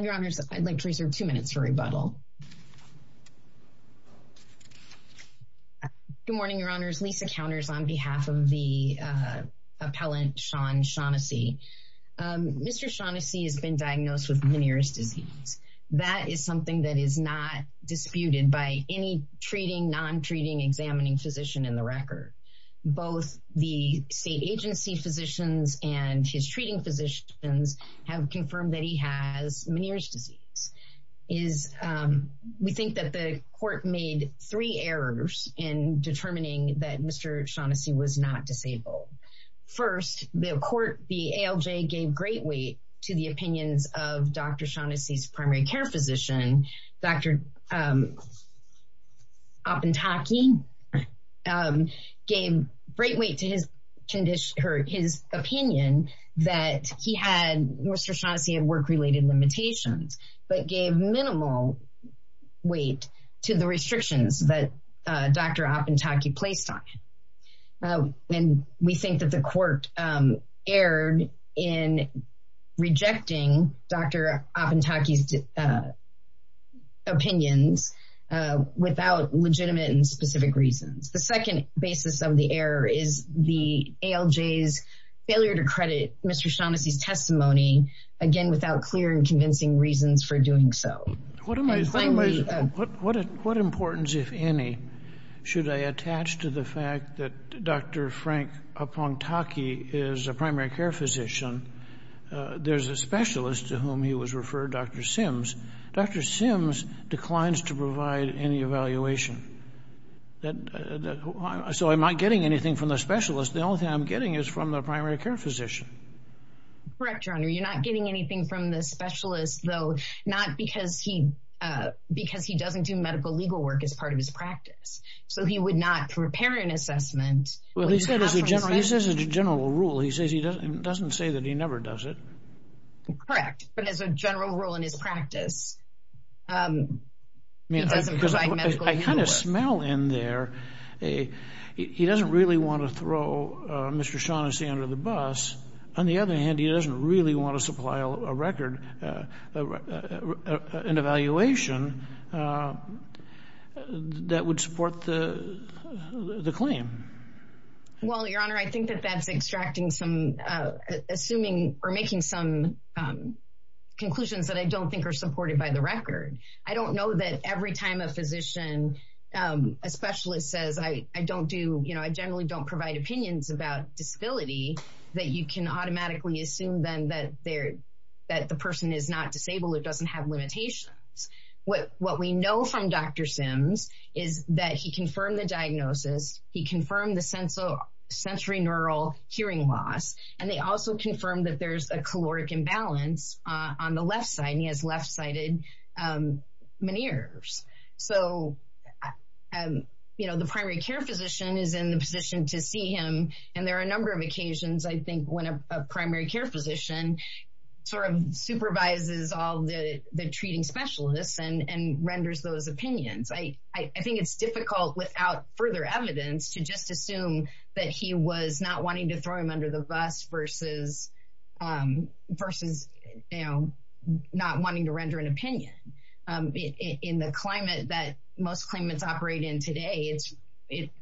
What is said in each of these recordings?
Your honors, I'd like to reserve two minutes for rebuttal. Good morning, your honors. Lisa Counters on behalf of the appellant Sean Shaughnessy. Mr. Shaughnessy has been diagnosed with Meniere's disease. That is something that is not disputed by any treating, non-treating, examining physician in the record. Both the state agency physicians and his treating physicians have confirmed that he has Meniere's disease. We think that the court made three errors in determining that Mr. Shaughnessy was not disabled. First, the court, the ALJ, gave great weight to the opinions of Dr. Shaughnessy's primary care physician, Dr. Opentaki, gave great weight to his opinion that he had, Mr. Shaughnessy, had work-related limitations, but gave minimal weight to the restrictions that Dr. Opentaki placed on him. And we think that the court erred in rejecting Dr. Opentaki's opinions without legitimate and specific reasons. The second basis of the error is the ALJ's failure to credit Mr. Shaughnessy's testimony, again, without clear and convincing reasons for doing so. What importance, if any, should I attach to the fact that Dr. Frank Opentaki is a primary care physician? There's a specialist to whom he was referred, Dr. Sims. Dr. Sims declines to provide any evaluation. So I'm not getting anything from the specialist. The only thing I'm getting is from the primary care physician. Correct, Your Honor. You're not getting anything from the specialist, though, not because he doesn't do medical legal work as part of his practice. So he would not prepare an assessment. Well, he says it's a general rule. He doesn't say that he never does it. Correct. But as a general rule in his practice, he doesn't provide medical legal work. I kind of smell in there, he doesn't really want to throw Mr. Shaughnessy under the bus. On the other hand, he doesn't really want to supply a record, an evaluation that would support the claim. Well, Your Honor, I think that that's extracting some, assuming or making some conclusions that I don't think are supported by the record. I don't know that every time a physician, a specialist says, I don't do, you know, I generally don't provide opinions about disability, that you can automatically assume then that the person is not disabled or doesn't have limitations. What we know from Dr. Sims is that he confirmed the diagnosis. He confirmed the sensory neural hearing loss. And they also confirmed that there's a caloric imbalance on the left side. He has left-sided veneers. So, you know, the primary care physician is in the position to see him. And there are a number of occasions, I think, when a primary care physician sort of supervises all the treating specialists and renders those opinions. I think it's difficult without further evidence to just assume that he was not wanting to throw him under the bus versus, you know, not wanting to render an opinion. In the climate that most claimants operate in today, it's,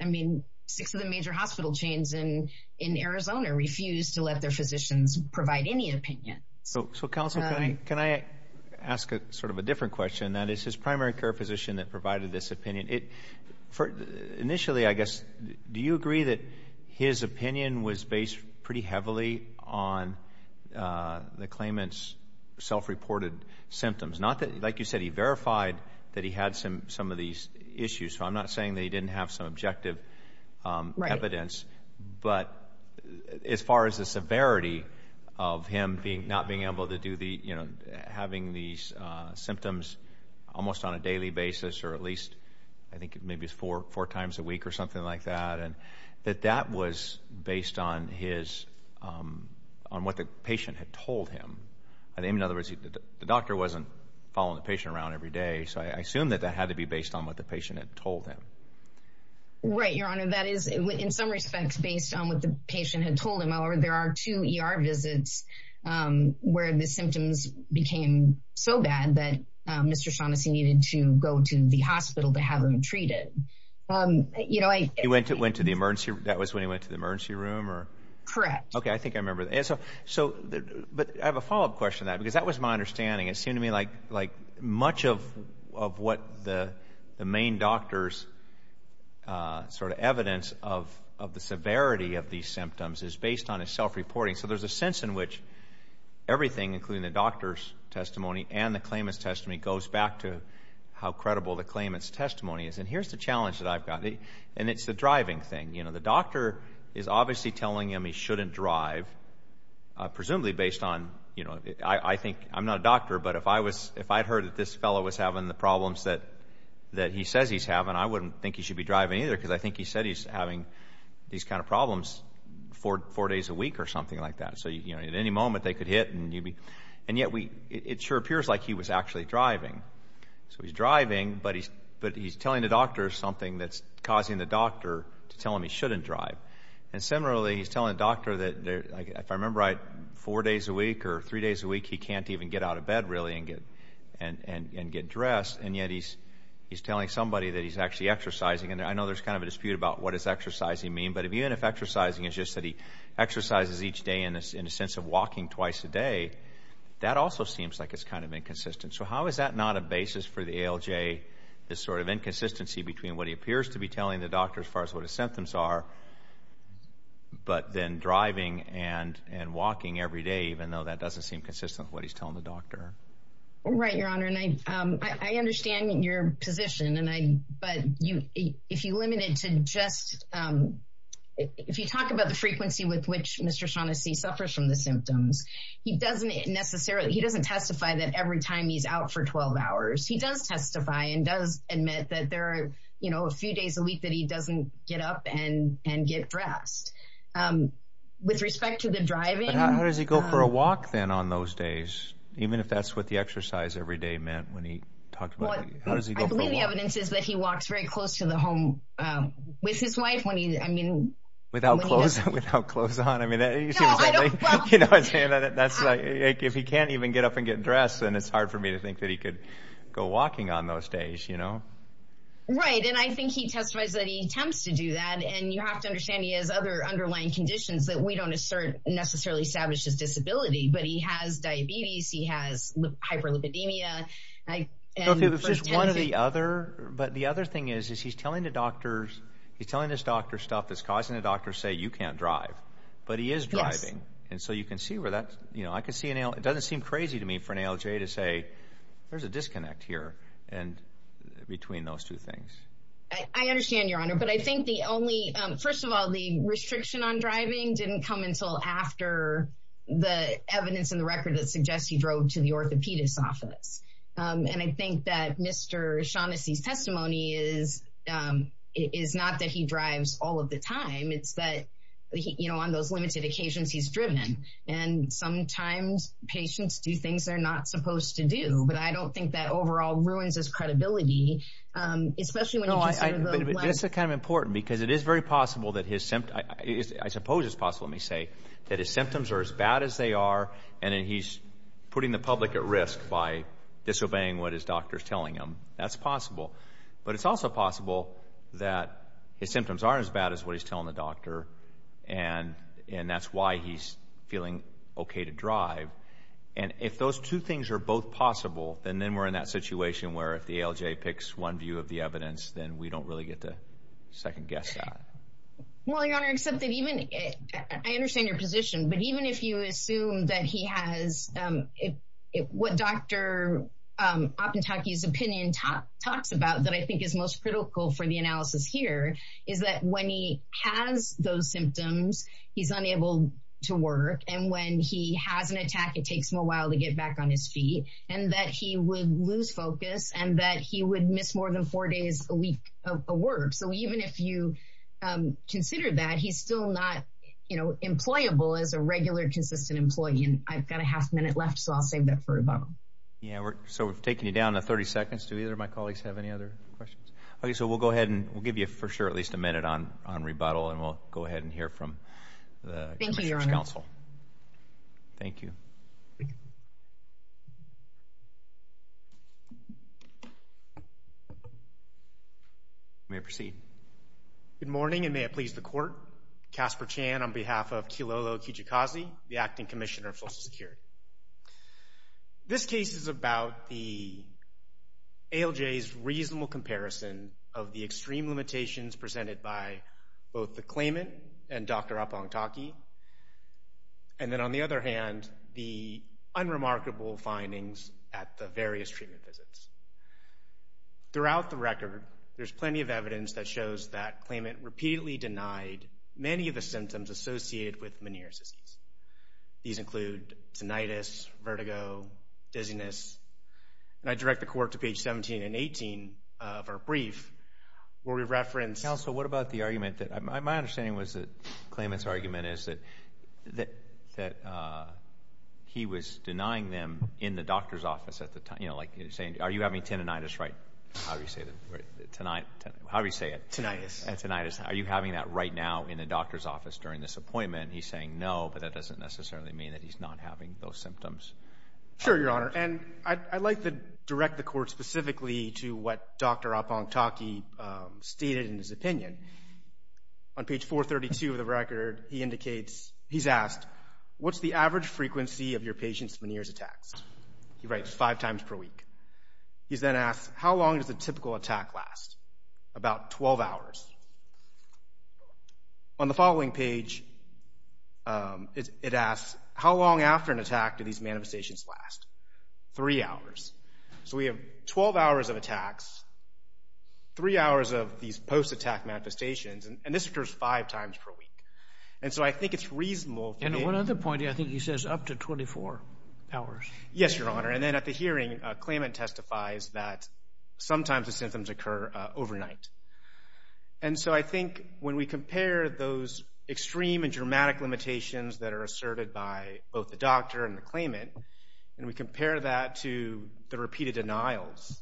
I mean, six of the major hospital chains in Arizona refuse to let their physicians provide any opinion. So, Counsel, can I ask sort of a different question? That is, his primary care physician that provided this opinion, initially, I guess, do you agree that his opinion was based pretty heavily on the claimant's self-reported symptoms? Not that, like you said, he verified that he had some of these issues. So, I'm not saying that he didn't have some objective evidence, but as far as the severity of him not being able to do the, you know, having these symptoms almost on a daily basis or at least, I think, maybe it's four times a week or something like that, that that was based on his, on what the patient had told him. I mean, in other words, the doctor wasn't following the patient around every day. So, I assume that that had to be based on what the patient had told him. Right, Your Honor. That is, in some respects, based on what the patient had told him. However, there are two ER visits where the symptoms became so bad that Mr. Shaughnessy needed to go to the hospital to have him treated. You know, I... He went to the emergency, that was when he went to the emergency room or... Correct. Okay, I think I remember. So, but I have a follow-up question to that because that was my understanding. It seemed to me like much of what the main doctor's sort of evidence of the severity of these symptoms is based on his self-reporting. So, there's a sense in which everything, including the doctor's testimony and the claimant's testimony, goes back to how credible the claimant's testimony is. And here's the challenge that I've got, and it's the driving thing. You know, the doctor is obviously telling him he shouldn't drive, presumably based on, you know, I think... I'm not a doctor, but if I had heard that this fellow was having the problems that he says he's having, I wouldn't think he should be driving either because I think he said he's having these kind of problems four days a week or something like that. So, you know, at any moment they could hit and you'd be... And yet, it sure appears like he was actually driving. So, he's driving, but he's telling the doctor something that's causing the doctor to tell him he shouldn't drive. And similarly, he's telling the doctor that, if I remember right, four days a week or three days a week, he can't even get out of bed, really, and get dressed. And yet, he's telling somebody that he's actually exercising. And I know there's kind of a dispute about what does exercising mean, but even if exercising is just that he exercises each day in a sense of walking twice a day, that also seems like it's kind of inconsistent. So, how is that not a basis for the ALJ, this sort of inconsistency between what he appears to be telling the doctor as far as what his symptoms are, but then driving and walking every day, even though that doesn't seem consistent with what he's telling the doctor? Right, Your Honor. And I understand your position, but if you limit it to just... If you talk about the frequency with which Mr. Shaughnessy suffers from the symptoms, he doesn't testify that every time he's out for 12 hours. He does testify and does admit that there are a few days a week that he doesn't get up and get dressed. With respect to the driving... How does he go for a walk then on those days, even if that's what the exercise every day meant when he talked about... How does he go for a walk? I believe the evidence is that he walks very close to the home with his wife when he... Without clothes on? You know what I'm saying? If he can't even get up and get dressed, then it's hard for me to think that he could go walking on those days. Right, and I think he testifies that he attempts to do that, and you have to understand he has other underlying conditions that we don't necessarily establish as disability, but he has diabetes, he has hyperlipidemia... But the other thing is he's telling his doctor stuff that's causing the doctor to say, you can't drive, but he is driving, and so you can see where that... It doesn't seem crazy to me for an ALJ to say, there's a disconnect here between those two things. I understand, Your Honor, but I think the only... First of all, the restriction on driving didn't come until after the evidence in the record that suggests he drove to the orthopedist's office. And I think that Mr. Shaughnessy's testimony is not that he drives all of the time, it's that on those limited occasions he's driven. And sometimes patients do things they're not supposed to do, but I don't think that overall ruins his credibility, especially when you consider the... No, but this is kind of important, because it is very possible that his symptoms... I suppose it's possible, let me say, that his symptoms are as bad as they are, and then he's putting the public at risk by disobeying what his doctor's telling him. That's possible. But it's also possible that his symptoms aren't as bad as what he's telling the doctor, and that's why he's feeling okay to drive. And if those two things are both possible, then we're in that situation where if the ALJ picks one view of the evidence, then we don't really get to second-guess that. Well, Your Honor, except that even... that I think is most critical for the analysis here is that when he has those symptoms, he's unable to work, and when he has an attack, it takes him a while to get back on his feet, and that he would lose focus and that he would miss more than four days a week of work. So even if you consider that, he's still not employable as a regular, consistent employee. And I've got a half-minute left, so I'll save that for Yvonne. Yeah, so we've taken you down to 30 seconds. Do either of my colleagues have any other questions? Okay, so we'll go ahead and we'll give you, for sure, at least a minute on rebuttal, and we'll go ahead and hear from the Justice Council. Thank you, Your Honor. Thank you. You may proceed. Good morning, and may it please the Court. Casper Chan on behalf of Kilolo Kijikazi, the Acting Commissioner of Social Security. This case is about the ALJ's reasonable comparison of the extreme limitations presented by both the claimant and Dr. Apong Thaki, and then, on the other hand, the unremarkable findings at the various treatment visits. Throughout the record, there's plenty of evidence that shows that claimant repeatedly denied many of the symptoms associated with Meniere's disease. These include tinnitus, vertigo, dizziness, and I direct the Court to page 17 and 18 of our brief, where we reference... Counsel, what about the argument that my understanding was that the claimant's argument is that he was denying them in the doctor's office at the time. You know, like he was saying, are you having tinnitus, right? How do you say that? How do you say it? Tinnitus. Tinnitus. Are you having that right now in the doctor's office during this appointment? He's saying no, but that doesn't necessarily mean that he's not having those symptoms. Sure, Your Honor. And I'd like to direct the Court specifically to what Dr. Apong Thaki stated in his opinion. On page 432 of the record, he indicates, he's asked, what's the average frequency of your patient's Meniere's attacks? He writes five times per week. He's then asked, how long does a typical attack last? About 12 hours. On the following page, it asks, how long after an attack do these manifestations last? Three hours. So we have 12 hours of attacks, three hours of these post-attack manifestations, and this occurs five times per week. And so I think it's reasonable... And one other point, I think he says up to 24 hours. Yes, Your Honor. And then at the hearing, a claimant testifies that sometimes the symptoms occur overnight. And so I think when we compare those extreme and dramatic limitations that are asserted by both the doctor and the claimant, and we compare that to the repeated denials,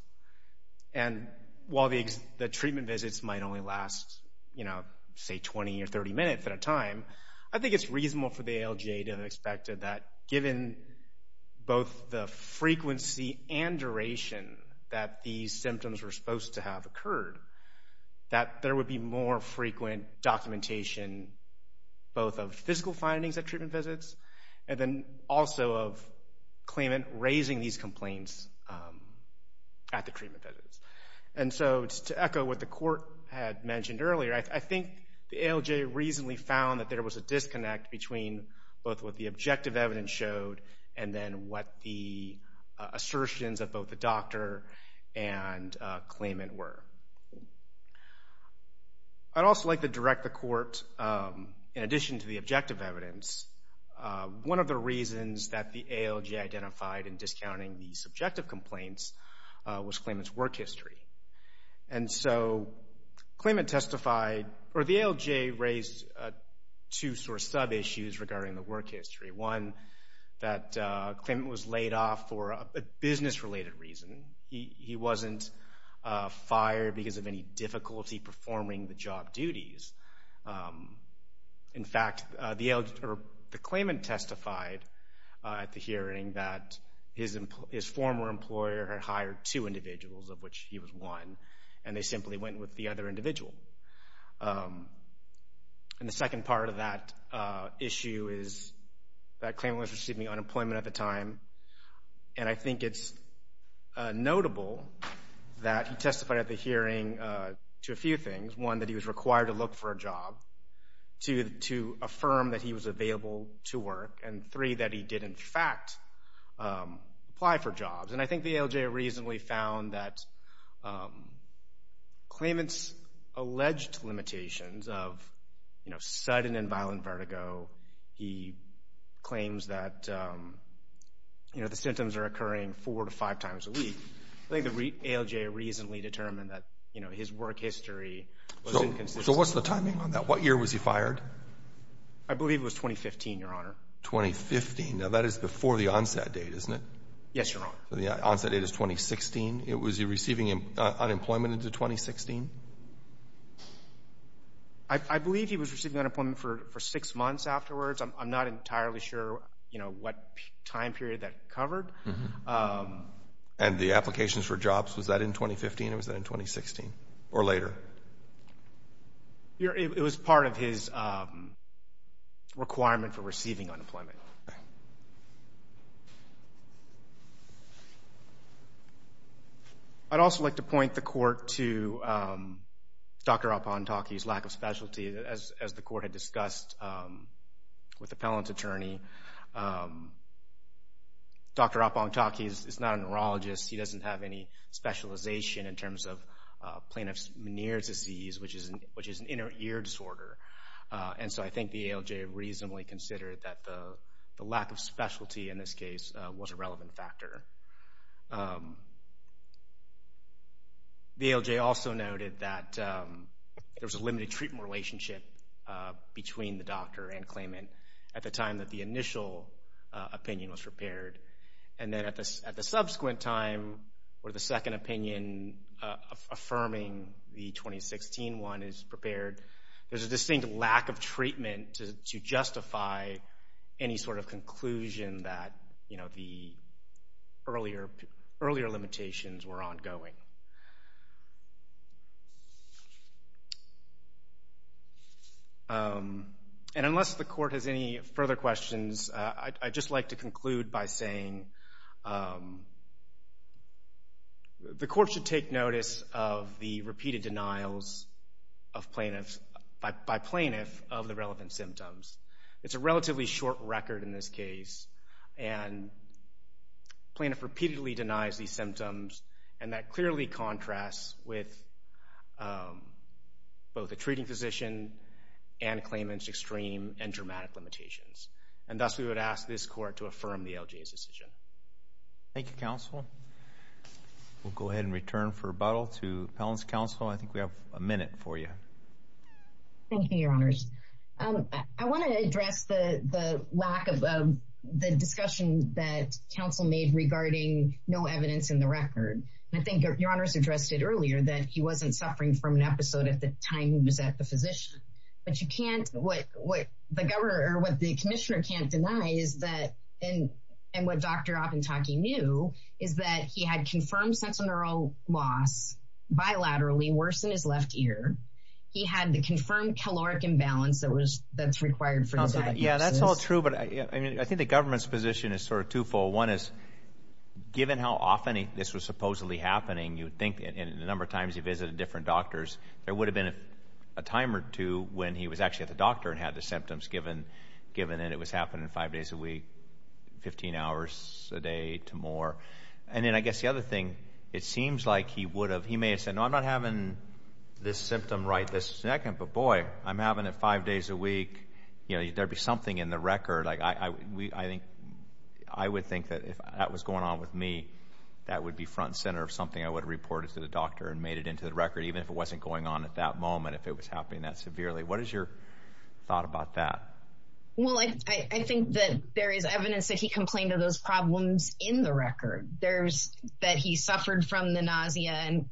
and while the treatment visits might only last, you know, say 20 or 30 minutes at a time, I think it's reasonable for the ALJ to have expected that, given both the frequency and duration that these symptoms were supposed to have occurred, that there would be more frequent documentation both of physical findings at treatment visits and then also of claimant raising these complaints at the treatment visits. And so just to echo what the Court had mentioned earlier, I think the ALJ reasonably found that there was a disconnect between both what the objective evidence showed and then what the assertions of both the doctor and claimant were. I'd also like to direct the Court, in addition to the objective evidence, one of the reasons that the ALJ identified in discounting the subjective complaints was claimant's work history. And so the ALJ raised two sort of sub-issues regarding the work history. One, that claimant was laid off for a business-related reason. He wasn't fired because of any difficulty performing the job duties. In fact, the claimant testified at the hearing that his former employer had hired two individuals, of which he was one, and they simply went with the other individual. And the second part of that issue is that claimant was receiving unemployment at the time, and I think it's notable that he testified at the hearing to a few things. One, that he was required to look for a job. Two, to affirm that he was available to work. And three, that he did, in fact, apply for jobs. And I think the ALJ reasonably found that claimant's alleged limitations of sudden and violent vertigo, he claims that the symptoms are occurring four to five times a week. I think the ALJ reasonably determined that his work history was inconsistent. So what's the timing on that? What year was he fired? I believe it was 2015, Your Honor. 2015. Now, that is before the onset date, isn't it? Yes, Your Honor. The onset date is 2016. Was he receiving unemployment into 2016? I believe he was receiving unemployment for six months afterwards. I'm not entirely sure what time period that covered. And the applications for jobs, was that in 2015 or was that in 2016, or later? It was part of his requirement for receiving unemployment. I'd also like to point the Court to Dr. Apontake's lack of specialty. As the Court had discussed with the appellant's attorney, Dr. Apontake is not a neurologist. He doesn't have any specialization in terms of Planoff's Meniere's disease, which is an inner ear disorder. And so I think the ALJ reasonably considered that the lack of specialty, in this case, was a relevant factor. The ALJ also noted that there was a limited treatment relationship between the doctor and claimant at the time that the initial opinion was prepared. And then at the subsequent time, where the second opinion affirming the 2016 one is prepared, there's a distinct lack of treatment to justify any sort of conclusion that the earlier limitations were ongoing. And unless the Court has any further questions, I'd just like to conclude by saying the Court should take notice of the repeated denials by Planoff of the relevant symptoms. It's a relatively short record in this case, and Planoff repeatedly denies these symptoms, and that clearly contrasts with both the treating physician and claimant's extreme and dramatic limitations. And thus we would ask this Court to affirm the ALJ's decision. Thank you, Counsel. We'll go ahead and return for rebuttal to Appellant's Counsel. I think we have a minute for you. Thank you, Your Honors. I want to address the lack of the discussion that Counsel made regarding no evidence in the record. I think Your Honors addressed it earlier, that he wasn't suffering from an episode at the time he was at the physician. But what the Commissioner can't deny, and what Dr. Opentake knew, is that he had confirmed sensorineural loss bilaterally, worse in his left ear. He had the confirmed caloric imbalance that's required for the diagnosis. Yeah, that's all true, but I think the government's position is sort of twofold. One is, given how often this was supposedly happening, you'd think the number of times he visited different doctors, there would have been a time or two when he was actually at the doctor and had the symptoms, given that it was happening five days a week, 15 hours a day to more. And then I guess the other thing, it seems like he would have, he may have said, no, I'm not having this symptom right this second, but boy, I'm having it five days a week. There would be something in the record. I would think that if that was going on with me, that would be front and center of something I would have reported to the doctor and made it into the record, even if it wasn't going on at that moment, if it was happening that severely. What is your thought about that? Well, I think that there is evidence that he complained of those problems in the record, that he suffered from the nausea and,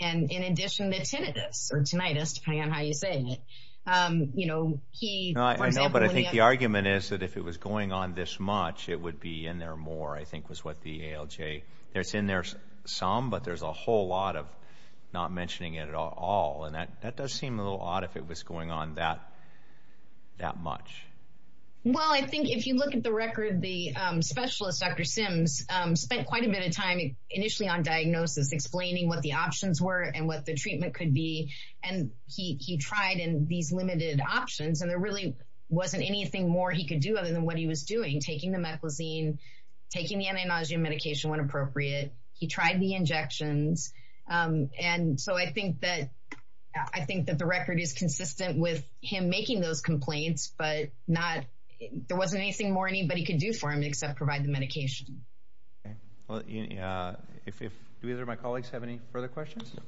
in addition, the tinnitus, or tinnitus, depending on how you say it. I know, but I think the argument is that if it was going on this much, it would be in there more, I think was what the ALJ, it's in there some, but there's a whole lot of not mentioning it at all, and that does seem a little odd if it was going on that much. Well, I think if you look at the record, the specialist, Dr. Sims, spent quite a bit of time initially on diagnosis, explaining what the options were and what the treatment could be, and he tried in these limited options, and there really wasn't anything more he could do other than what he was doing, taking the meclizine, taking the anti-nausea medication when appropriate. He tried the injections, and so I think that the record is consistent with him making those complaints, but there wasn't anything more anybody could do for him except provide the medication. Okay. Do either of my colleagues have any further questions? No.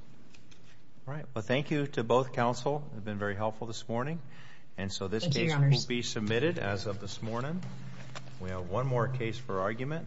All right. Well, thank you to both counsel. It's been very helpful this morning. Thank you, Your Honors. The motion will be submitted as of this morning. We have one more case for argument.